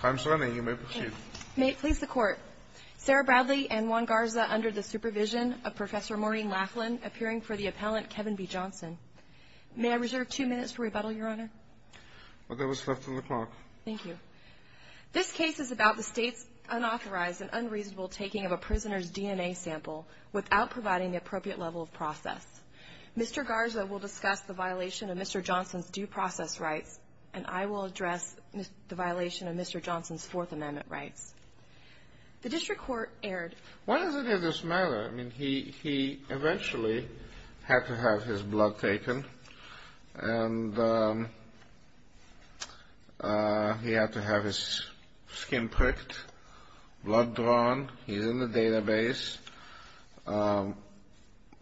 Time's running. You may proceed. May it please the Court. Sarah Bradley and Juan Garza under the supervision of Professor Maureen Laughlin, appearing for the appellant Kevin B. Johnson. May I reserve two minutes for rebuttal, Your Honor? Well, there was less than a clock. Thank you. This case is about the state's unauthorized and unreasonable taking of a prisoner's DNA sample without providing the appropriate level of process. Mr. Garza will and I will address the violation of Mr. Johnson's Fourth Amendment rights. The district court erred. Why does it matter? I mean, he eventually had to have his blood taken, and he had to have his skin pricked, blood drawn. He's in the database.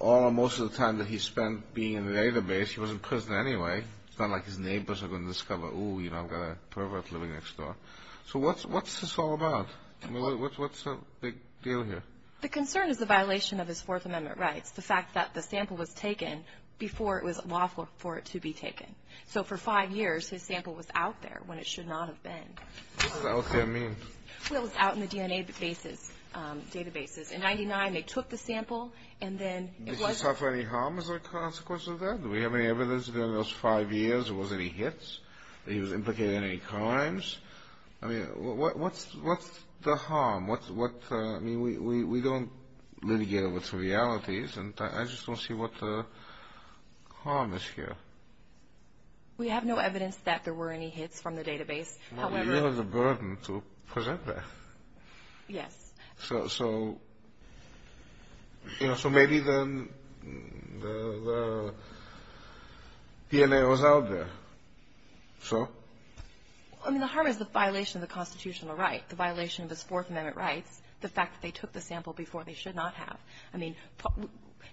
All or most of the time that he spent being in the database, he was in prison anyway. It's not like his neighbors are going to discover, oh, you know, I've got a pervert living next door. So what's this all about? I mean, what's the big deal here? The concern is the violation of his Fourth Amendment rights, the fact that the sample was taken before it was lawful for it to be taken. So for five years, his sample was out there when it should not have been. What does out there mean? Well, it was out in the DNA databases. In 99, they took the sample, and then it wasn't... Did he suffer any harm as a consequence of that? Do we have any evidence during those five years there was any hits? That he was implicated in any crimes? I mean, what's the harm? I mean, we don't litigate it with some realities, and I just don't see what the harm is here. We have no evidence that there were any hits from the database. Well, you have the burden to present that. Yes. So, you know, so maybe the DNA was out there. So? I mean, the harm is the violation of the constitutional right, the violation of his Fourth Amendment rights, the fact that they took the sample before they should not have. I mean,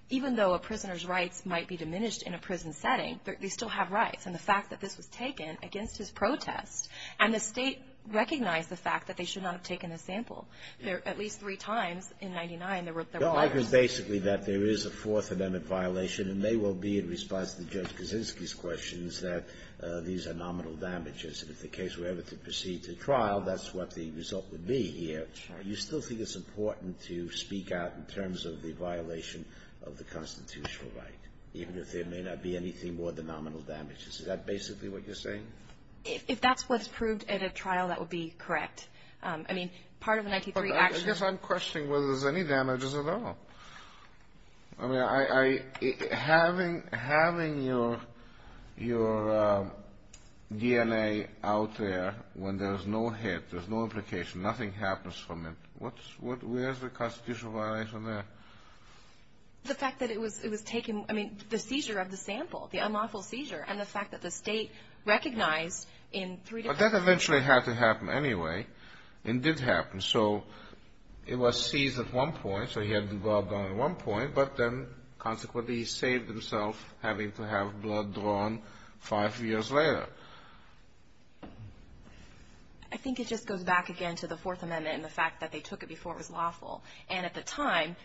even though a prisoner's rights might be diminished in a prison setting, they still have rights. And the fact that this was taken against his protest, and the State recognized the fact that they should not have taken the sample, at least three times in 1999, there were... Your argument is basically that there is a Fourth Amendment violation, and they will be, in response to Judge Kaczynski's questions, that these are nominal damages. And if the case were ever to proceed to trial, that's what the result would be here. You still think it's important to speak out in terms of the violation of the constitutional right, even if there may not be anything more than nominal damages. Is that basically what you're saying? If that's what's proved at a trial, that would be correct. I mean, part of the 1993 action... I guess I'm questioning whether there's any damages at all. I mean, having your DNA out there when there's no hit, there's no implication, nothing happens from it, where's the constitutional violation there? The fact that it was taken – I mean, the seizure of the sample, the unlawful seizure, and the fact that the State recognized in three different... But that eventually had to happen anyway, and did happen. So it was seized at one point, so he had the glove on at one point, but then consequently he saved himself having to have blood drawn five years later. I think it just goes back again to the Fourth Amendment and the fact that they took it before it was lawful. And at the time,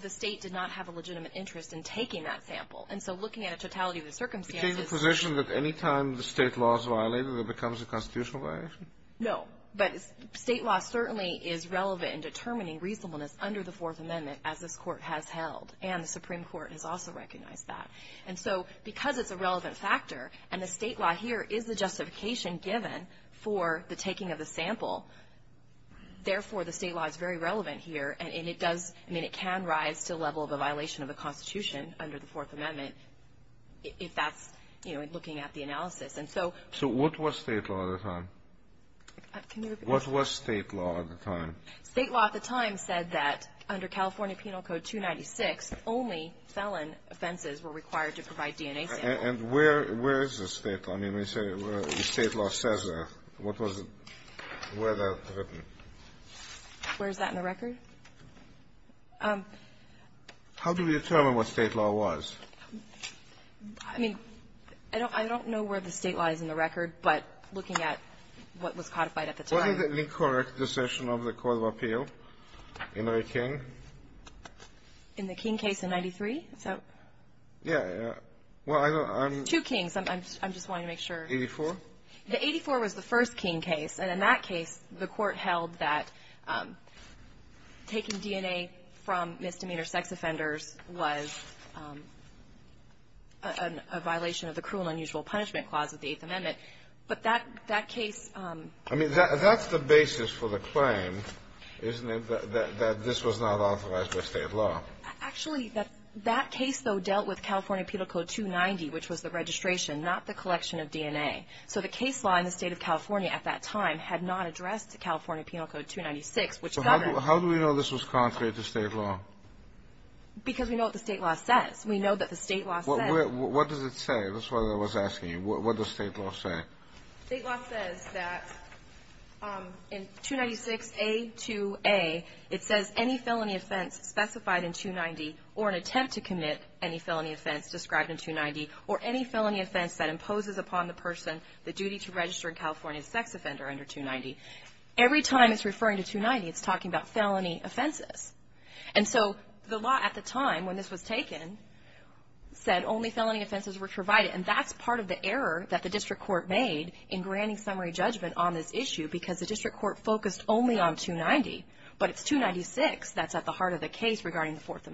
the State did not have a legitimate interest in taking that sample. And so looking at the totality of the circumstances... You take the position that any time the State law is violated, it becomes a constitutional violation? No. But State law certainly is relevant in determining reasonableness under the Fourth Amendment, as this Court has held, and the Supreme Court has also recognized that. And so because it's a relevant factor, and the State law here is the justification given for the taking of the sample, therefore the State law is very relevant here, and it does I mean, it can rise to the level of a violation of the Constitution under the Fourth Amendment if that's, you know, looking at the analysis. And so... So what was State law at the time? Can you repeat that? What was State law at the time? State law at the time said that under California Penal Code 296, only felon offenses were required to provide DNA samples. And where is the State law? I mean, when you say the State law says that, what was it? Where is that written? Where is that in the record? How do we determine what State law was? I mean, I don't know where the State law is in the record, but looking at what was codified at the time. What is the incorrect decision of the court of appeal in Ray King? In the King case in 93? Yeah. Well, I don't know. Two Kings. I'm just wanting to make sure. 84? The 84 was the first King case, and in that case, the court held that taking DNA from misdemeanor sex offenders was a violation of the Cruel and Unusual Punishment Clause of the Eighth Amendment. But that case... I mean, that's the basis for the claim, isn't it, that this was not authorized by State law? Actually, that case, though, dealt with California Penal Code 290, which was the registration, not the collection of DNA. So the case law in the State of California at that time had not addressed California Penal Code 296, which governs... So how do we know this was contrary to State law? Because we know what the State law says. We know that the State law says... What does it say? That's what I was asking you. What does State law say? State law says that in 296A2A, it says any felony offense specified in 290 or an attempt to commit any felony offense described in 290 or any felony offense that imposes upon the person the duty to register in California as a sex offender under 290. Every time it's referring to 290, it's talking about felony offenses. And so the law at the time when this was taken said only felony offenses were provided, and that's part of the error that the district court made in granting summary judgment on this issue, because the district court focused only on 290. But it's 296 that's at the heart of the case regarding the Fourth So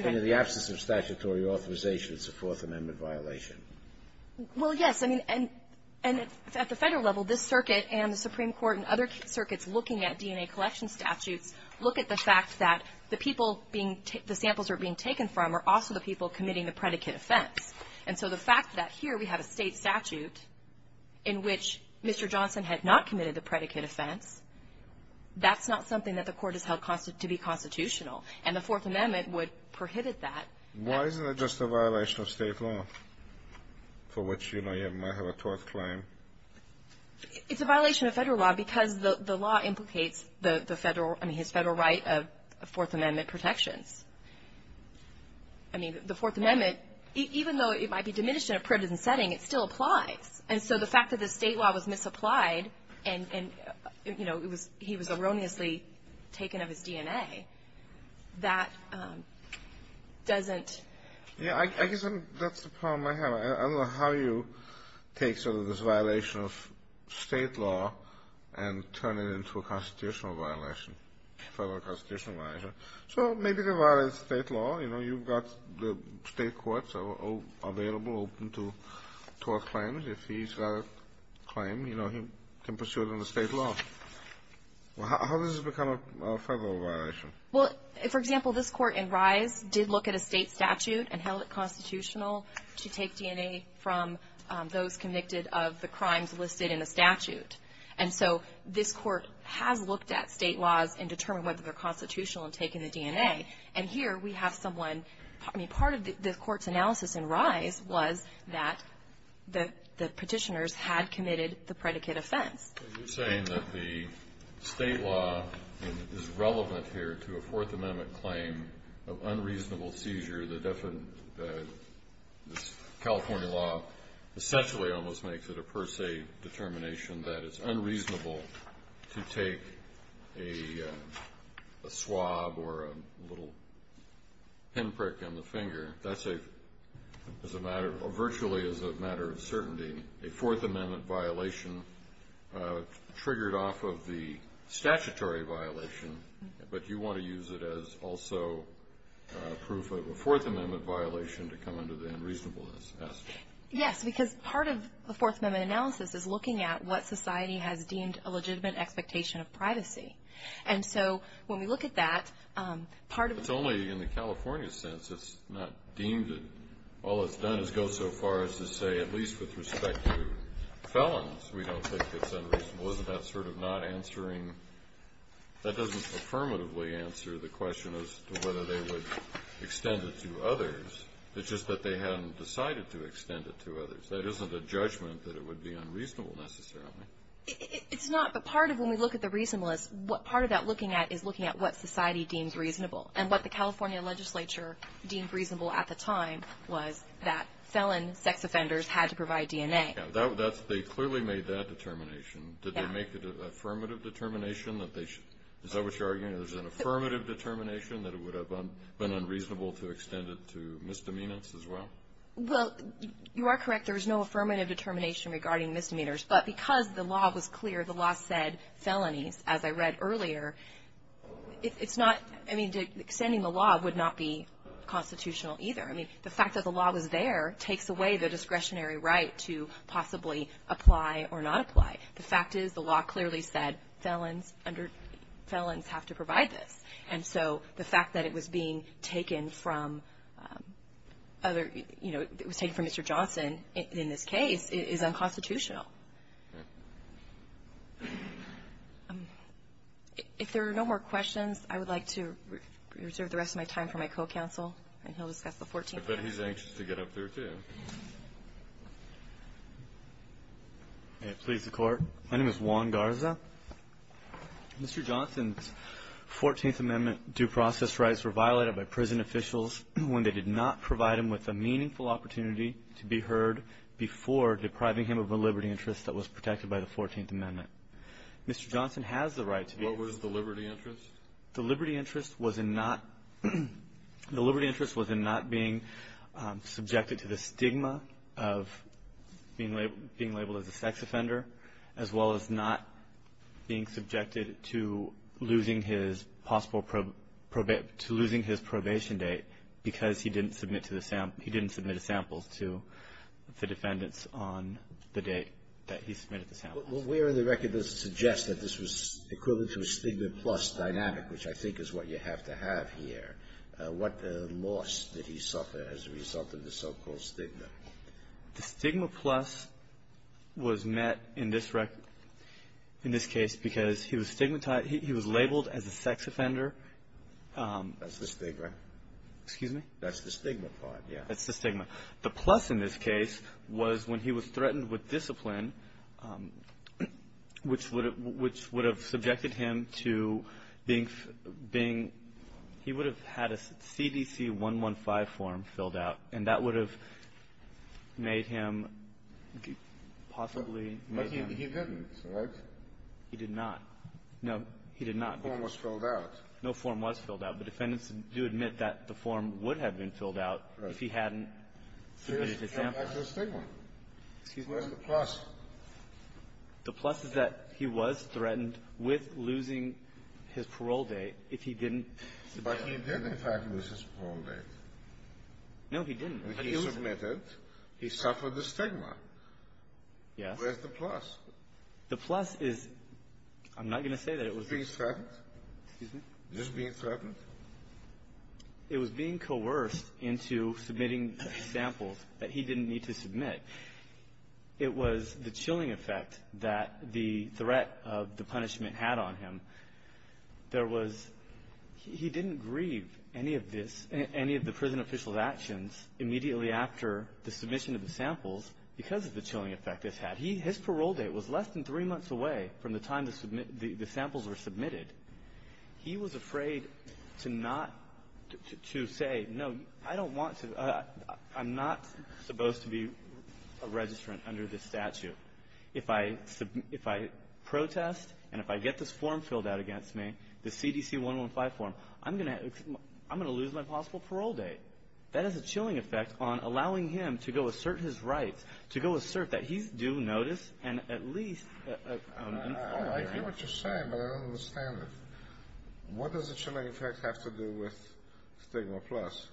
if there's an excess of statutory authorization, it's a Fourth Amendment violation. Well, yes. I mean, and at the Federal level, this circuit and the Supreme Court and other circuits looking at DNA collection statutes look at the fact that the people being the samples are being taken from are also the people committing the predicate offense. And so the fact that here we have a State statute in which Mr. Johnson had not committed the predicate offense, that's not something that the Court has held to be constitutional. And the Fourth Amendment would prohibit that. Why isn't it just a violation of State law, for which, you know, you might have a tort claim? It's a violation of Federal law because the law implicates the Federal, I mean, his Federal right of Fourth Amendment protections. I mean, the Fourth Amendment, even though it might be diminished in a privileged setting, it still applies. And so the fact that the State law was misapplied and, you know, he was erroneously taken of his DNA, that doesn't... Yeah, I guess that's the problem I have. I don't know how you take sort of this violation of State law and turn it into a constitutional violation, Federal constitutional violation. So maybe they violated State law. You know, you've got the State courts available, open to tort claims. If he's got a claim, you know, he can pursue it under State law. How does this become a Federal violation? Well, for example, this Court in Rise did look at a State statute and held it constitutional to take DNA from those convicted of the crimes listed in the statute. And so this Court has looked at State laws and determined whether they're constitutional in taking the DNA. And here we have someone... I mean, part of the Court's analysis in Rise was that the Petitioners had committed the predicate offense. But you're saying that the State law is relevant here to a Fourth Amendment claim of unreasonable seizure. The California law essentially almost makes it a per se determination that it's a little pinprick in the finger. That's a matter of... virtually is a matter of certainty. A Fourth Amendment violation triggered off of the statutory violation, but you want to use it as also proof of a Fourth Amendment violation to come under the unreasonableness aspect. Yes, because part of the Fourth Amendment analysis is looking at what society has deemed a legitimate expectation of privacy. And so when we look at that, part of... It's only in the California sense. It's not deemed... all it's done is go so far as to say, at least with respect to felons, we don't think it's unreasonable. Isn't that sort of not answering... that doesn't affirmatively answer the question as to whether they would extend it to others. It's just that they hadn't decided to extend it to others. That isn't a judgment that it would be unreasonable necessarily. It's not, but part of when we look at the reasonableness, part of that looking at is looking at what society deems reasonable. And what the California legislature deemed reasonable at the time was that felon sex offenders had to provide DNA. They clearly made that determination. Did they make it an affirmative determination that they should... is that what you're arguing? There's an affirmative determination that it would have been unreasonable to extend it to misdemeanors as well? Well, you are correct. There is no affirmative determination regarding misdemeanors. But because the law was clear, the law said felonies, as I read earlier, it's not... I mean, extending the law would not be constitutional either. I mean, the fact that the law was there takes away the discretionary right to possibly apply or not apply. The fact is the law clearly said felons under... felons have to provide this. And so the fact that it was being taken from other... you know, it was taken from Mr. Johnson is not constitutional. If there are no more questions, I would like to reserve the rest of my time for my co-counsel, and he'll discuss the 14th Amendment. I bet he's anxious to get up there, too. May it please the Court. My name is Juan Garza. Mr. Johnson's 14th Amendment due process rights were violated by prison officials when they did not provide him with a meaningful opportunity to be heard before depriving him of a liberty interest that was protected by the 14th Amendment. Mr. Johnson has the right to be... What was the liberty interest? The liberty interest was in not... the liberty interest was in not being subjected to the stigma of being labeled as a sex offender, as well as not being subjected to losing his possible probate... to losing his probation date because he didn't submit to the... he didn't submit a sample to the defendants on the date that he submitted the sample. But where in the record does it suggest that this was equivalent to a stigma plus dynamic, which I think is what you have to have here? What loss did he suffer as a result of the so-called stigma? The stigma plus was met in this record... in this case because he was stigmatized... he was labeled as a sex offender. That's the stigma. Excuse me? That's the stigma part, yeah. That's the stigma. The plus in this case was when he was threatened with discipline, which would have subjected him to being... he would have had a CDC 115 form filled out, and that would have made him possibly... But he didn't, right? He did not. No, he did not. No form was filled out. No form was filled out, but defendants do admit that the form would have been filled out if he hadn't submitted his sample. But that's the stigma. Where's the plus? The plus is that he was threatened with losing his parole date if he didn't... But he did, in fact, lose his parole date. No, he didn't. But he submitted. He suffered the stigma. Yes. Where's the plus? The plus is... I'm not going to say that it was... Just being threatened? Excuse me? Just being threatened? It was being coerced into submitting samples that he didn't need to submit. It was the chilling effect that the threat of the punishment had on him. There was... He didn't grieve any of the prison official's actions immediately after the submission of the samples because of the chilling effect this had. His parole date was less than three months away from the time the samples were submitted. He was afraid to say, no, I don't want to... I'm not supposed to be a registrant under this statute. If I protest and if I get this form filled out against me, the CDC-115 form, I'm going to lose my possible parole date. That has a chilling effect on allowing him to go assert his rights, to go assert that he's due notice and at least... I get what you're saying, but I don't understand it. What does the chilling effect have to do with stigma plus?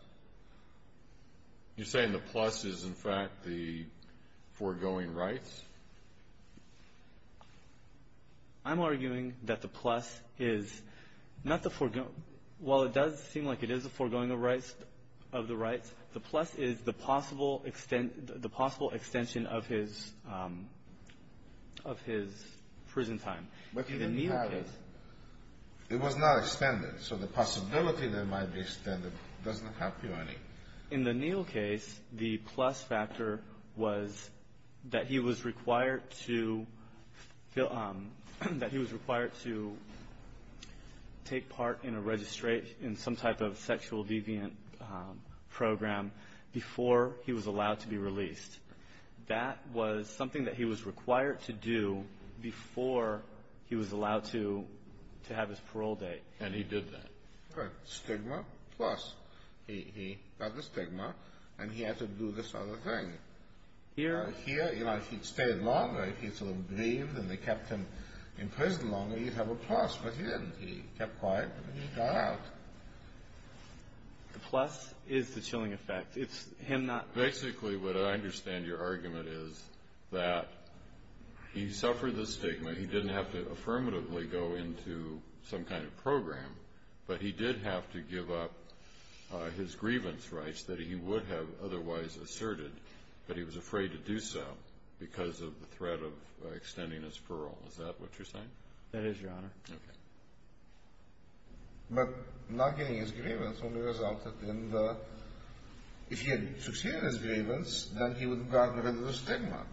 You're saying the plus is, in fact, the foregoing rights? I'm arguing that the plus is not the foregoing... While it does seem like it is the foregoing of the rights, the plus is the possible extension of his prison time. But he didn't have it. It was not extended, so the possibility that it might be extended doesn't help you any. In the Neal case, the plus factor was that he was required to fill... that he was required to take part in a registration, in some type of sexual deviant program before he was allowed to be released. That was something that he was required to do before he was allowed to have his parole date. And he did that. Good. Stigma plus. He got the stigma, and he had to do this other thing. Here, if he'd stayed longer, if he'd sort of breathed, and they kept him in prison longer, he'd have a plus. But he didn't. He kept quiet, and he got out. The plus is the chilling effect. It's him not... Basically, what I understand your argument is that he suffered the stigma. He didn't have to affirmatively go into some kind of program, but he did have to give up his grievance rights that he would have otherwise asserted, but he was afraid to do so because of the threat of extending his parole. Is that what you're saying? That is, Your Honor. Okay. But not getting his grievance only resulted in the... If he had succeeded in his grievance, then he would have gotten rid of the stigma.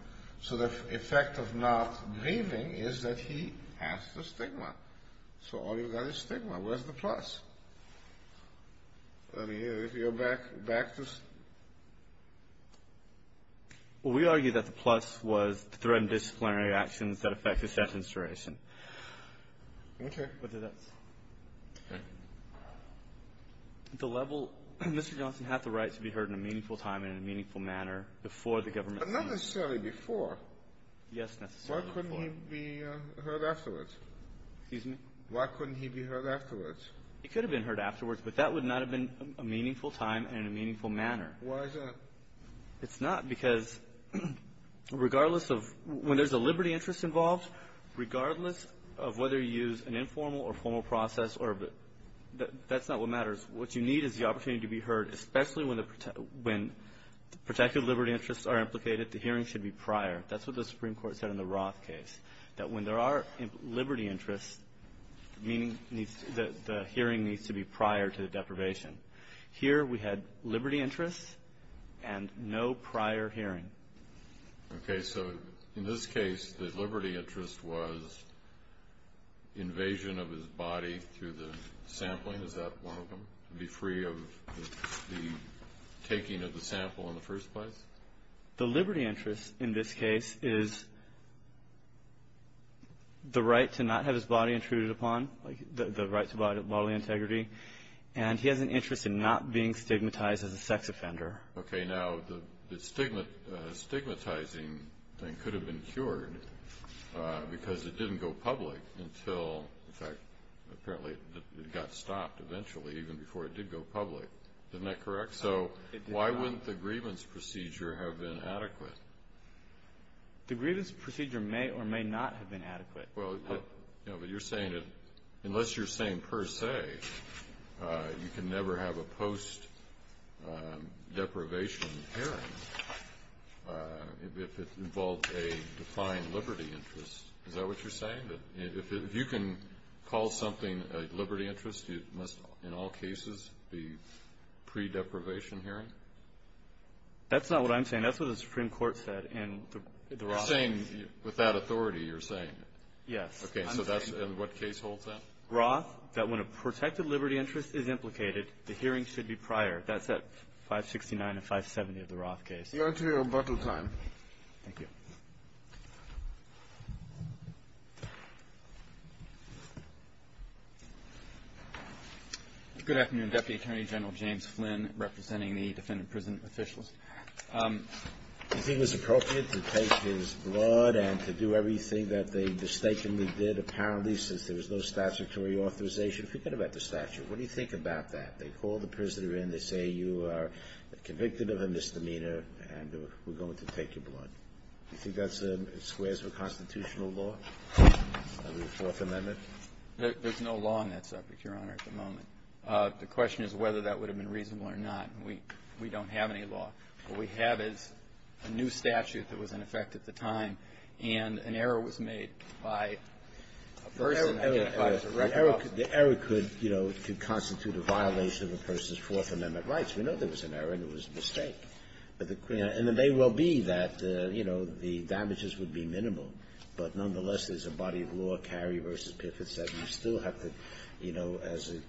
So the effect of not grieving is that he has the stigma. So all you've got is stigma. Where's the plus? I mean, if you go back to... Well, we argue that the plus was the threat of disciplinary actions that affect his sentence duration. Okay. The level... Mr. Johnson had the right to be heard in a meaningful time and in a meaningful manner before the government... But not necessarily before. Yes, necessarily before. Why couldn't he be heard afterwards? Excuse me? Why couldn't he be heard afterwards? He could have been heard afterwards, but that would not have been a meaningful time and in a meaningful manner. Why is that? It's not because regardless of... When there's a liberty interest involved, regardless of whether you use an informal or formal process or... That's not what matters. What you need is the opportunity to be heard, especially when protected liberty interests are implicated, the hearing should be prior. That's what the Supreme Court said in the Roth case, that when there are liberty interests, the hearing needs to be prior to the deprivation. Here we had liberty interests and no prior hearing. Okay. So in this case, the liberty interest was invasion of his body through the sampling. Is that one of them, to be free of the taking of the sample in the first place? The liberty interest in this case is the right to not have his body intruded upon, like the right to bodily integrity, and he has an interest in not being stigmatized as a sex offender. Okay. Now, the stigmatizing thing could have been cured because it didn't go public until, in fact, apparently it got stopped eventually, even before it did go public. Isn't that correct? So why wouldn't the grievance procedure have been adequate? The grievance procedure may or may not have been adequate. Well, but you're saying that unless you're saying per se, you can never have a post-deprivation hearing if it involved a defiant liberty interest. Is that what you're saying? That if you can call something a liberty interest, it must in all cases be pre-deprivation hearing? That's not what I'm saying. That's what the Supreme Court said in the Roth case. You're saying, with that authority, you're saying? Yes. Okay. So that's what case holds then? Roth, that when a protected liberty interest is implicated, the hearing should be prior. That's at 569 and 570 of the Roth case. Your time. Thank you. Good afternoon, Deputy Attorney General James Flynn, representing the defendant prison officials. Do you think it was appropriate to take his blood and to do everything that they mistakenly did, apparently, since there was no statutory authorization? Forget about the statute. What do you think about that? They call the prisoner in, they say you are convicted of a misdemeanor, and we're going to take your blood. Do you think that squares with constitutional law under the Fourth Amendment? There's no law on that subject, Your Honor, at the moment. The question is whether that would have been reasonable or not. We don't have any law. What we have is a new statute that was in effect at the time, and an error was made by a person. An error could constitute a violation of a person's Fourth Amendment rights. We know there was an error and it was a mistake. And it may well be that, you know, the damages would be minimal, but nonetheless, there's a body of law, Cary v. Piffitt, that says you still have to, you know, as a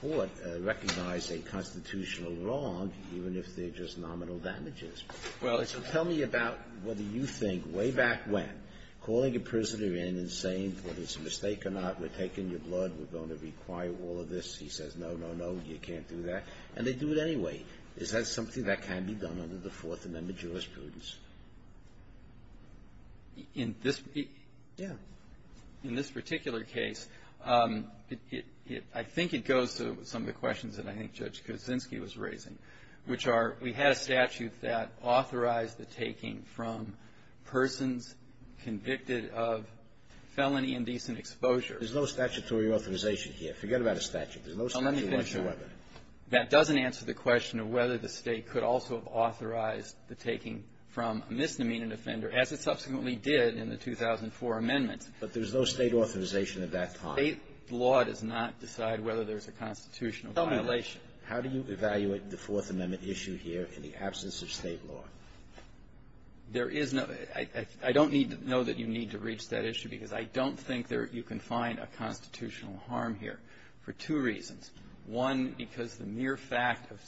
court, recognize a constitutional wrong, even if they're just nominal damages. Well, it's a question. Tell me about whether you think, way back when, calling a prisoner in and saying, whether it's a mistake or not, we're taking your blood, we're going to require all of this. He says, no, no, no, you can't do that. And they do it anyway. Is that something that can be done under the Fourth Amendment jurisprudence? In this be ---- Yeah. In this particular case, I think it goes to some of the questions that I think Judge Kuczynski was raising, which are, we had a statute that authorized the taking from persons convicted of felony indecent exposure. There's no statutory authorization here. Forget about a statute. There's no statute whatsoever. That doesn't answer the question of whether the State could also have authorized the taking from a misdemeanor offender, as it subsequently did in the 2004 amendments. But there's no State authorization at that time. State law does not decide whether there's a constitutional violation. Tell me, how do you evaluate the Fourth Amendment issue here in the absence of State law? There is no ---- I don't need to know that you need to reach that issue, because I don't think you can find a constitutional harm here for two reasons. One, because the mere fact of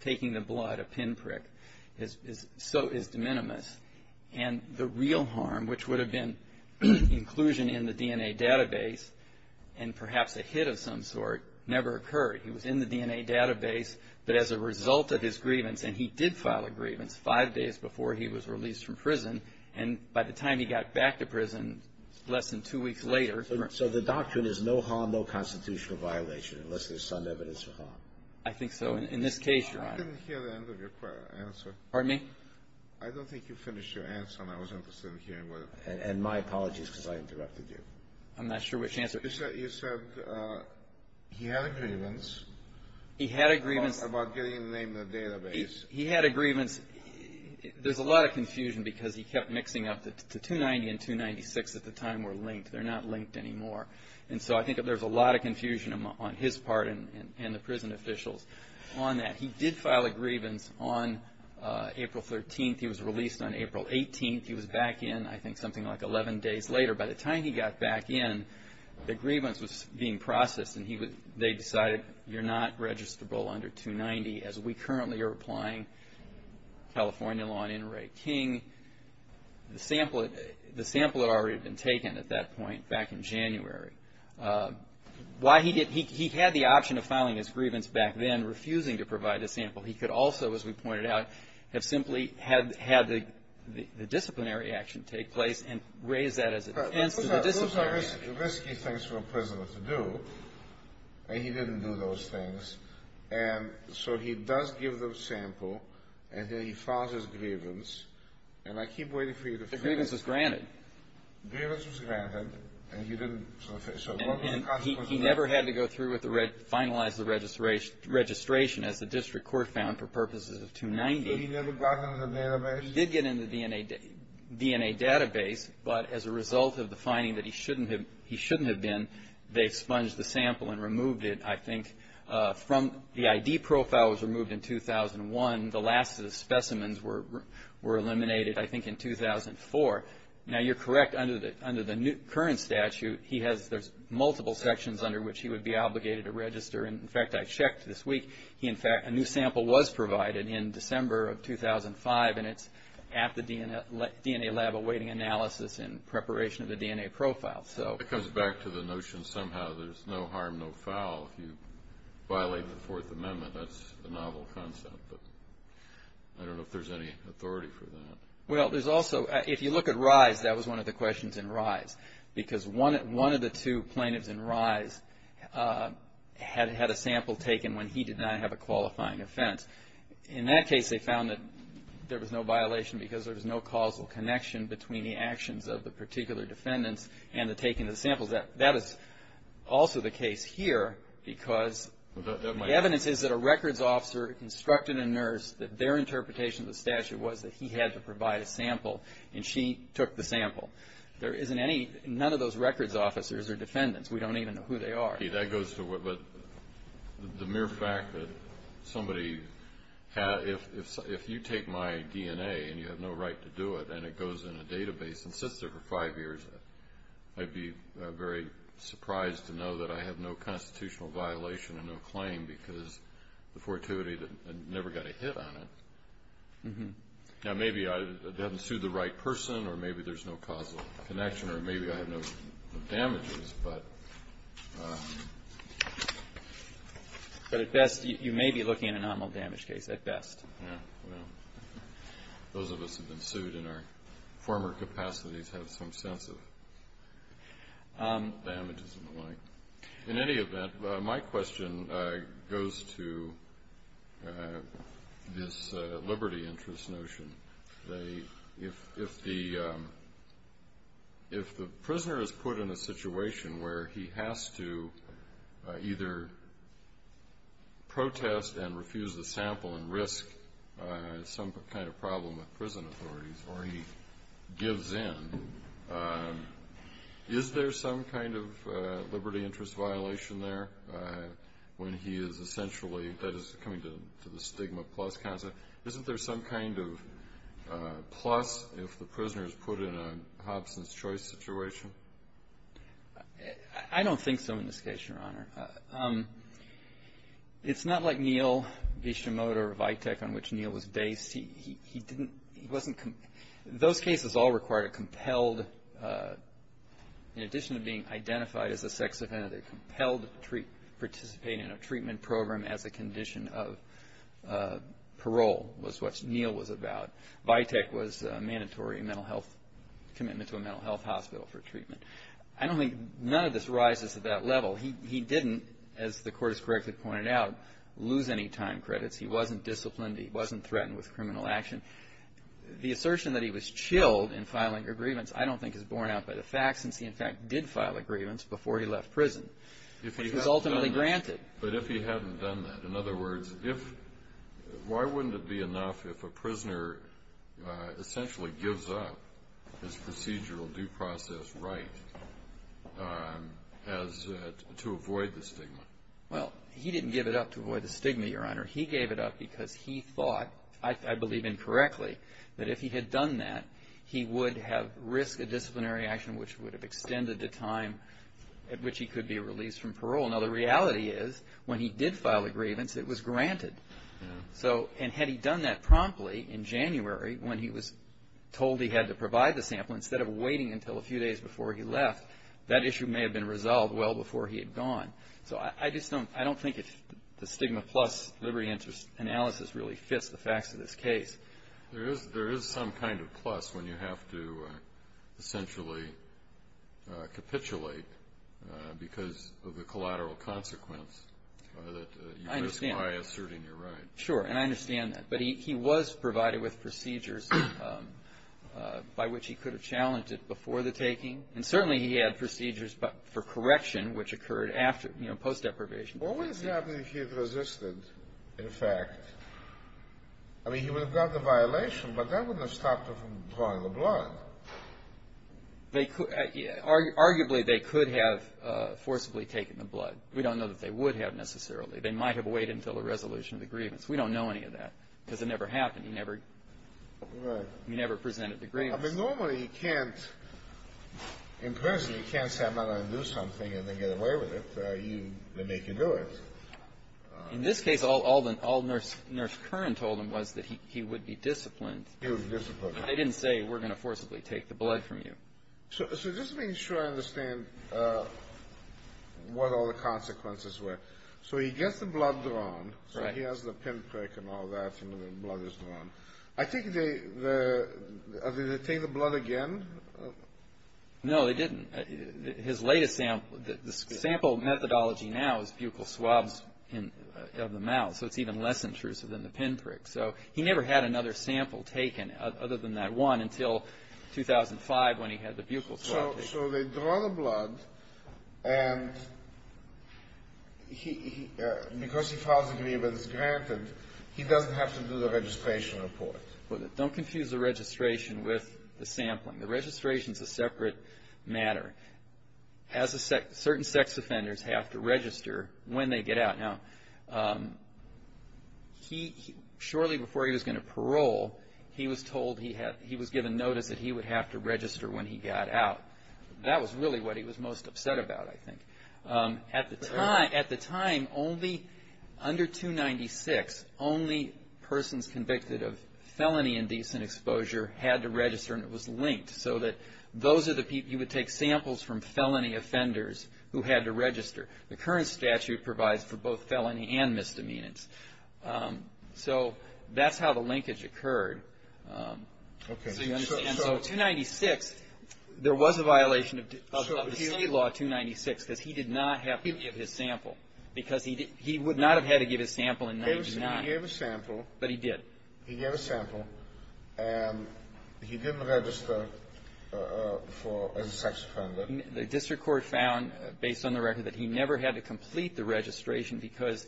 taking the blood, a pinprick, so is de minimis. And the real harm, which would have been inclusion in the DNA database and perhaps a hit of some sort, never occurred. He was in the DNA database, but as a result of his grievance, and he did file a grievance five days before he was released from prison, and by the time he got back to prison less than two weeks later ---- So the doctrine is no harm, no constitutional violation, unless there's some evidence of harm. I think so. In this case, Your Honor ---- I didn't hear the end of your answer. Pardon me? I don't think you finished your answer, and I was interested in hearing what ---- And my apologies, because I interrupted you. I'm not sure which answer. You said he had a grievance. He had a grievance. About getting the name in the database. He had a grievance. There's a lot of confusion because he kept mixing up the 290 and 296 at the time were linked. They're not linked anymore. And so I think there's a lot of confusion on his part and the prison officials on that. He did file a grievance on April 13th. He was released on April 18th. He was back in, I think, something like 11 days later. By the time he got back in, the grievance was being processed, and they decided you're not registrable under 290 as we currently are applying California law in Ray King. The sample had already been taken at that point back in January. He had the option of filing his grievance back then, refusing to provide a sample. He could also, as we pointed out, have simply had the disciplinary action take place and raise that as a defense to the disciplinary action. Those are risky things for a prisoner to do, and he didn't do those things. And so he does give the sample, and then he files his grievance. And I keep waiting for you to finish. The grievance was granted. The grievance was granted, and he didn't. So what was the consequence of that? And he never had to go through with the finalized registration, as the district court found, for purposes of 290. He never got in the database? He did get in the DNA database, but as a result of the finding that he shouldn't have been, they expunged the sample and removed it, I think. The ID profile was removed in 2001. The last of the specimens were eliminated, I think, in 2004. Now, you're correct, under the current statute, there's multiple sections under which he would be obligated to register. In fact, I checked this week. In fact, a new sample was provided in December of 2005, and it's at the DNA lab awaiting analysis in preparation of the DNA profile. It comes back to the notion somehow there's no harm, no foul, if you violate the Fourth Amendment. That's a novel concept, but I don't know if there's any authority for that. Well, there's also, if you look at Rise, that was one of the questions in Rise, because one of the two plaintiffs in Rise had a sample taken when he did not have a qualifying offense. In that case, they found that there was no violation because there was no causal connection between the actions of the particular defendants and the taking of the samples. That is also the case here because the evidence is that a records officer instructed a nurse that their interpretation of the statute was that he had to provide a sample, and she took the sample. There isn't any, none of those records officers are defendants. We don't even know who they are. That goes to what, the mere fact that somebody, if you take my DNA and you have no right to do it and it goes in a database and sits there for five years, I'd be very surprised to know that I have no constitutional violation and no claim because the fortuity never got a hit on it. Now, maybe I haven't sued the right person or maybe there's no causal connection or maybe I have no damages, but... But at best, you may be looking at a nominal damage case at best. Yeah, well, those of us who've been sued in our former capacities have some sense of damages and the like. In any event, my question goes to this liberty interest notion. If the prisoner is put in a situation where he has to either protest and refuse the sample and risk some kind of problem with prison authorities or he gives in, is there some kind of liberty interest violation there when he is essentially, that is coming to the stigma plus concept, isn't there some kind of plus if the prisoner is put in a Hobson's Choice situation? I don't think so in this case, Your Honor. It's not like Neil Bishimoto or Vitek on which Neil was based. Those cases all required a compelled, in addition to being identified as a sex offender, a compelled to participate in a treatment program as a condition of parole was what Neil was about. Vitek was a mandatory mental health commitment to a mental health hospital for treatment. I don't think none of this rises to that level. He didn't, as the Court has correctly pointed out, lose any time credits. He wasn't disciplined. He wasn't threatened with criminal action. The assertion that he was chilled in filing a grievance I don't think is borne out by the facts since he, in fact, did file a grievance before he left prison, which was ultimately granted. But if he hadn't done that, in other words, why wouldn't it be enough if a prisoner essentially gives up his procedural due process right to avoid the stigma? Well, he didn't give it up to avoid the stigma, Your Honor. He gave it up because he thought, I believe incorrectly, that if he had done that, he would have risked a disciplinary action which would have extended the time at which he could be released from parole. Now, the reality is when he did file a grievance, it was granted. And had he done that promptly in January when he was told he had to provide the sample, instead of waiting until a few days before he left, that issue may have been resolved well before he had gone. So I just don't think the stigma plus liberty interest analysis really fits the facts of this case. There is some kind of plus when you have to essentially capitulate because of the collateral consequence. I understand. By asserting your right. Sure, and I understand that. But he was provided with procedures by which he could have challenged it before the taking. And certainly he had procedures for correction which occurred after, you know, post deprivation. What would have happened if he had resisted, in fact? I mean, he would have gotten a violation, but that wouldn't have stopped him from drawing the blood. Arguably, they could have forcibly taken the blood. We don't know that they would have necessarily. They might have waited until a resolution of the grievance. We don't know any of that because it never happened. He never presented the grievance. I mean, normally you can't, in prison, you can't say I'm not going to do something and then get away with it. They make you do it. In this case, all Nurse Curran told him was that he would be disciplined. He was disciplined. I didn't say we're going to forcibly take the blood from you. So just to make sure I understand what all the consequences were. So he gets the blood drawn. I think they, did they take the blood again? No, they didn't. His latest sample, the sample methodology now is buccal swabs of the mouth. So it's even less intrusive than the pinprick. So he never had another sample taken other than that one until 2005 when he had the buccal swab taken. So they draw the blood and he, because he files a grievance granted, he doesn't have to do the registration report. Don't confuse the registration with the sampling. The registration is a separate matter. As a sex, certain sex offenders have to register when they get out. Now, he, shortly before he was going to parole, he was told he had, he was given notice that he would have to register when he got out. That was really what he was most upset about, I think. At the time, at the time, only, under 296, only persons convicted of felony indecent exposure had to register and it was linked. So that those are the people, you would take samples from felony offenders who had to register. The current statute provides for both felony and misdemeanors. So that's how the linkage occurred. So you understand. So 296, there was a violation of the state law, 296, because he did not have to give his sample. Because he did, he would not have had to give his sample in 99. He gave a sample. But he did. He gave a sample and he didn't register for, as a sex offender. The district court found, based on the record, that he never had to complete the registration because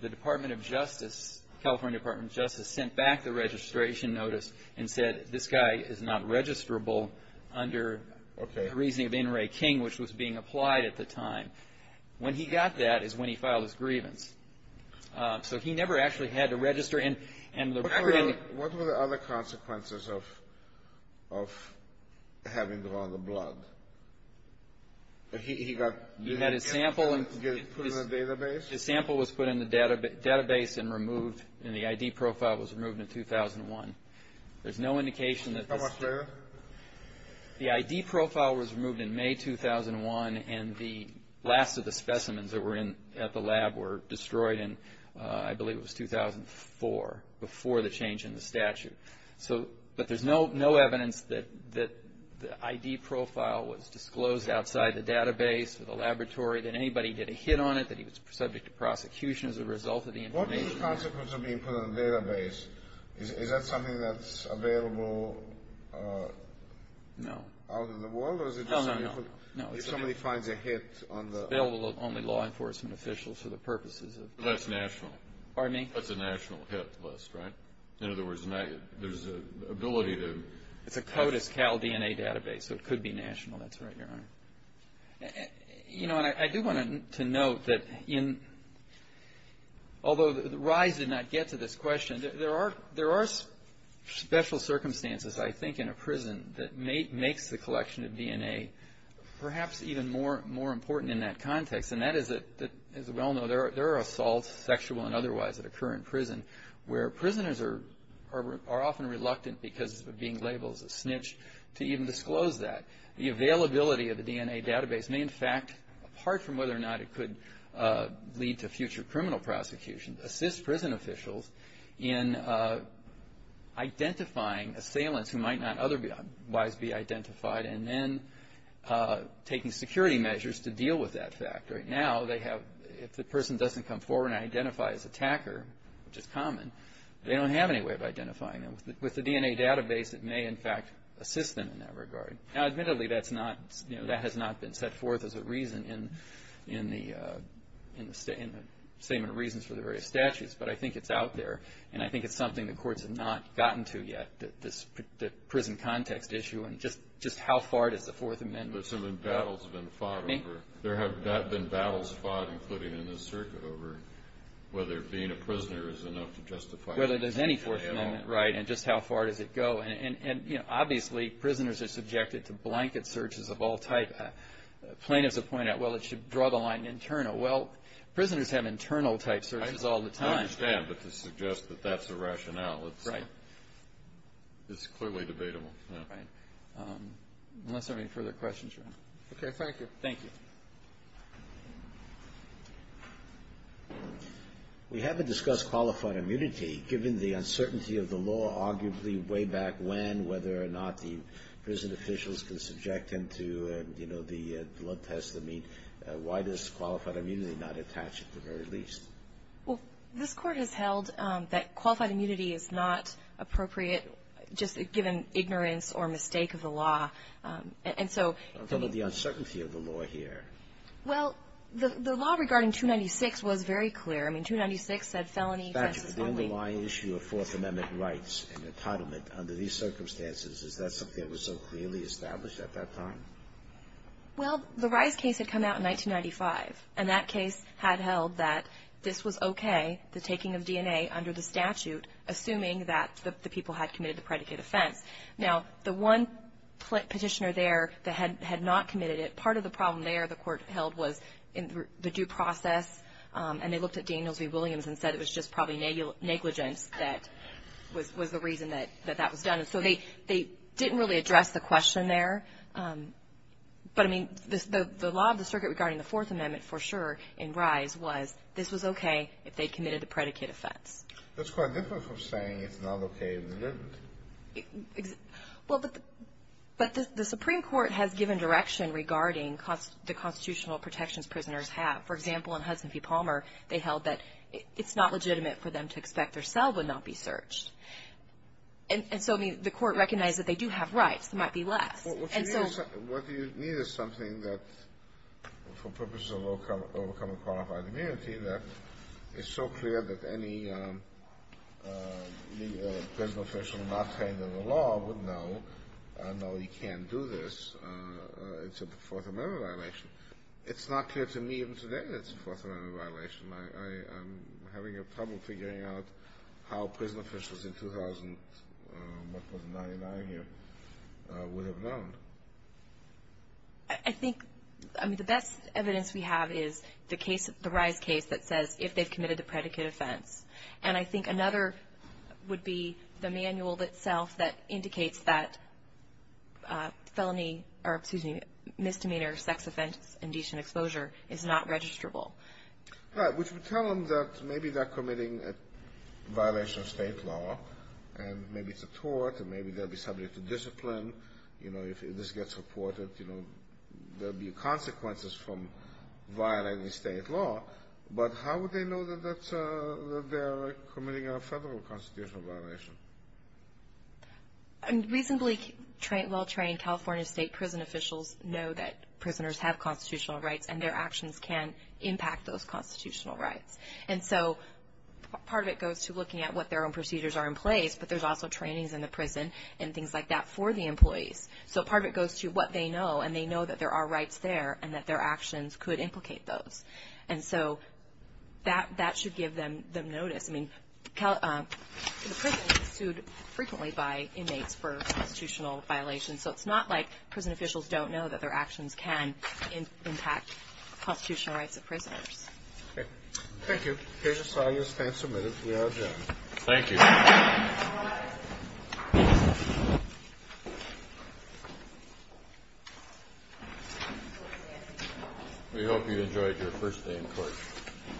the Department of Justice, California Department of Justice, sent back the registration notice and said, this guy is not registrable under the reasoning of N. Ray King, which was being applied at the time. When he got that is when he filed his grievance. So he never actually had to register. What were the other consequences of having them on the blood? He got put in a database? His sample was put in the database and removed, and the ID profile was removed in 2001. There's no indication that this. How much later? The ID profile was removed in May 2001, and the last of the specimens that were at the lab were destroyed in, I believe it was 2004, before the change in the statute. But there's no evidence that the ID profile was disclosed outside the database or the laboratory, that anybody did a hit on it, that he was subject to prosecution as a result of the information. What were the consequences of being put in a database? Is that something that's available out in the world? No, no, no. If somebody finds a hit on the ---- It's available to only law enforcement officials for the purposes of ---- That's national. Pardon me? That's a national hit list, right? In other words, there's an ability to ---- It's a CODIS-Cal DNA database, so it could be national. That's right, Your Honor. You know, and I do want to note that in ---- although the rise did not get to this question, there are special circumstances, I think, in a prison that makes the collection of DNA perhaps even more important in that context. And that is that, as we all know, there are assaults, sexual and otherwise, that occur in prison, where prisoners are often reluctant because of being labeled as a snitch to even disclose that. The availability of the DNA database may, in fact, apart from whether or not it could lead to future criminal prosecution, assist prison officials in identifying assailants who might not otherwise be identified and then taking security measures to deal with that fact. Right now, they have ---- if the person doesn't come forward and identify as attacker, which is common, they don't have any way of identifying them. With the DNA database, it may, in fact, assist them in that regard. Now, admittedly, that's not ---- you know, that has not been set forth as a reason in the Statement of Reasons for the various statutes, but I think it's out there, and I think it's something the courts have not gotten to yet, that this prison context issue and just how far does the Fourth Amendment go? But some embattles have been fought over. There have been battles fought, including in this circuit, over whether being a prisoner is enough to justify ---- Whether there's any Fourth Amendment, right, and just how far does it go. And, you know, obviously, prisoners are subjected to blanket searches of all type. Plaintiffs have pointed out, well, it should draw the line internal. Well, prisoners have internal type searches all the time. I understand, but to suggest that that's the rationale, it's clearly debatable. Right. Unless there are any further questions, Your Honor. Okay, thank you. Thank you. We haven't discussed qualified immunity. Given the uncertainty of the law, arguably, way back when, whether or not the prison officials can subject them to, you know, the blood tests that meet, why does qualified immunity not attach at the very least? Well, this Court has held that qualified immunity is not appropriate, just given ignorance or mistake of the law. And so ---- Given the uncertainty of the law here ---- Well, the law regarding 296 was very clear. I mean, 296 said felony offenses only. In fact, the underlying issue of Fourth Amendment rights and entitlement under these circumstances, is that something that was so clearly established at that time? Well, the Rice case had come out in 1995, and that case had held that this was okay, the taking of DNA under the statute, assuming that the people had committed the predicate offense. Now, the one petitioner there that had not committed it, part of the problem there the Court held was the due process. And they looked at Daniels v. Williams and said it was just probably negligence that was the reason that that was done. And so they didn't really address the question there. But, I mean, the law of the circuit regarding the Fourth Amendment, for sure, in Rice, was this was okay if they committed the predicate offense. That's quite different from saying it's not okay if they didn't. Well, but the Supreme Court has given direction regarding the constitutional protections prisoners have. For example, in Hudson v. Palmer, they held that it's not legitimate for them to expect their cell would not be searched. And so, I mean, the Court recognized that they do have rights. There might be less. And so ---- What you need is something that, for purposes of overcoming qualified immunity, that is so clear that any prison official not trained in the law would know, know he can't do this, it's a Fourth Amendment violation. It's not clear to me even today that it's a Fourth Amendment violation. I'm having a problem figuring out how prison officials in 2000, 1999 here, would have known. I think, I mean, the best evidence we have is the case, the Rice case, that says if they've committed the predicate offense. And I think another would be the manual itself that indicates that felony, or excuse me, misdemeanor, sex offense, indecent exposure is not registrable. Right. Which would tell them that maybe they're committing a violation of state law, and maybe it's a tort, and maybe they'll be subject to discipline. You know, if this gets reported, you know, there'll be consequences from violating state law. But how would they know that they're committing a federal constitutional violation? I mean, reasonably well-trained California state prison officials know that prisoners have constitutional rights, and their actions can impact those constitutional rights. And so part of it goes to looking at what their own procedures are in place, but there's also trainings in the prison and things like that for the employees. So part of it goes to what they know, and they know that there are rights there, and that their actions could implicate those. And so that should give them notice. I mean, the prison is sued frequently by inmates for constitutional violations, so it's not like prison officials don't know that their actions can impact constitutional rights of prisoners. Okay. Thank you. The case is signed and stand submitted. We are adjourned. Thank you. We hope you enjoyed your first day in court. Thank you.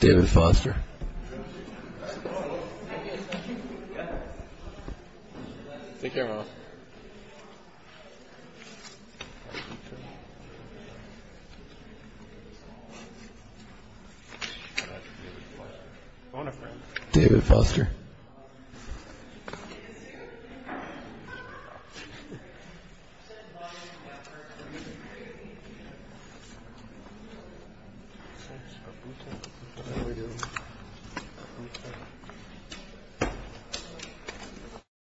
David Foster. David Foster.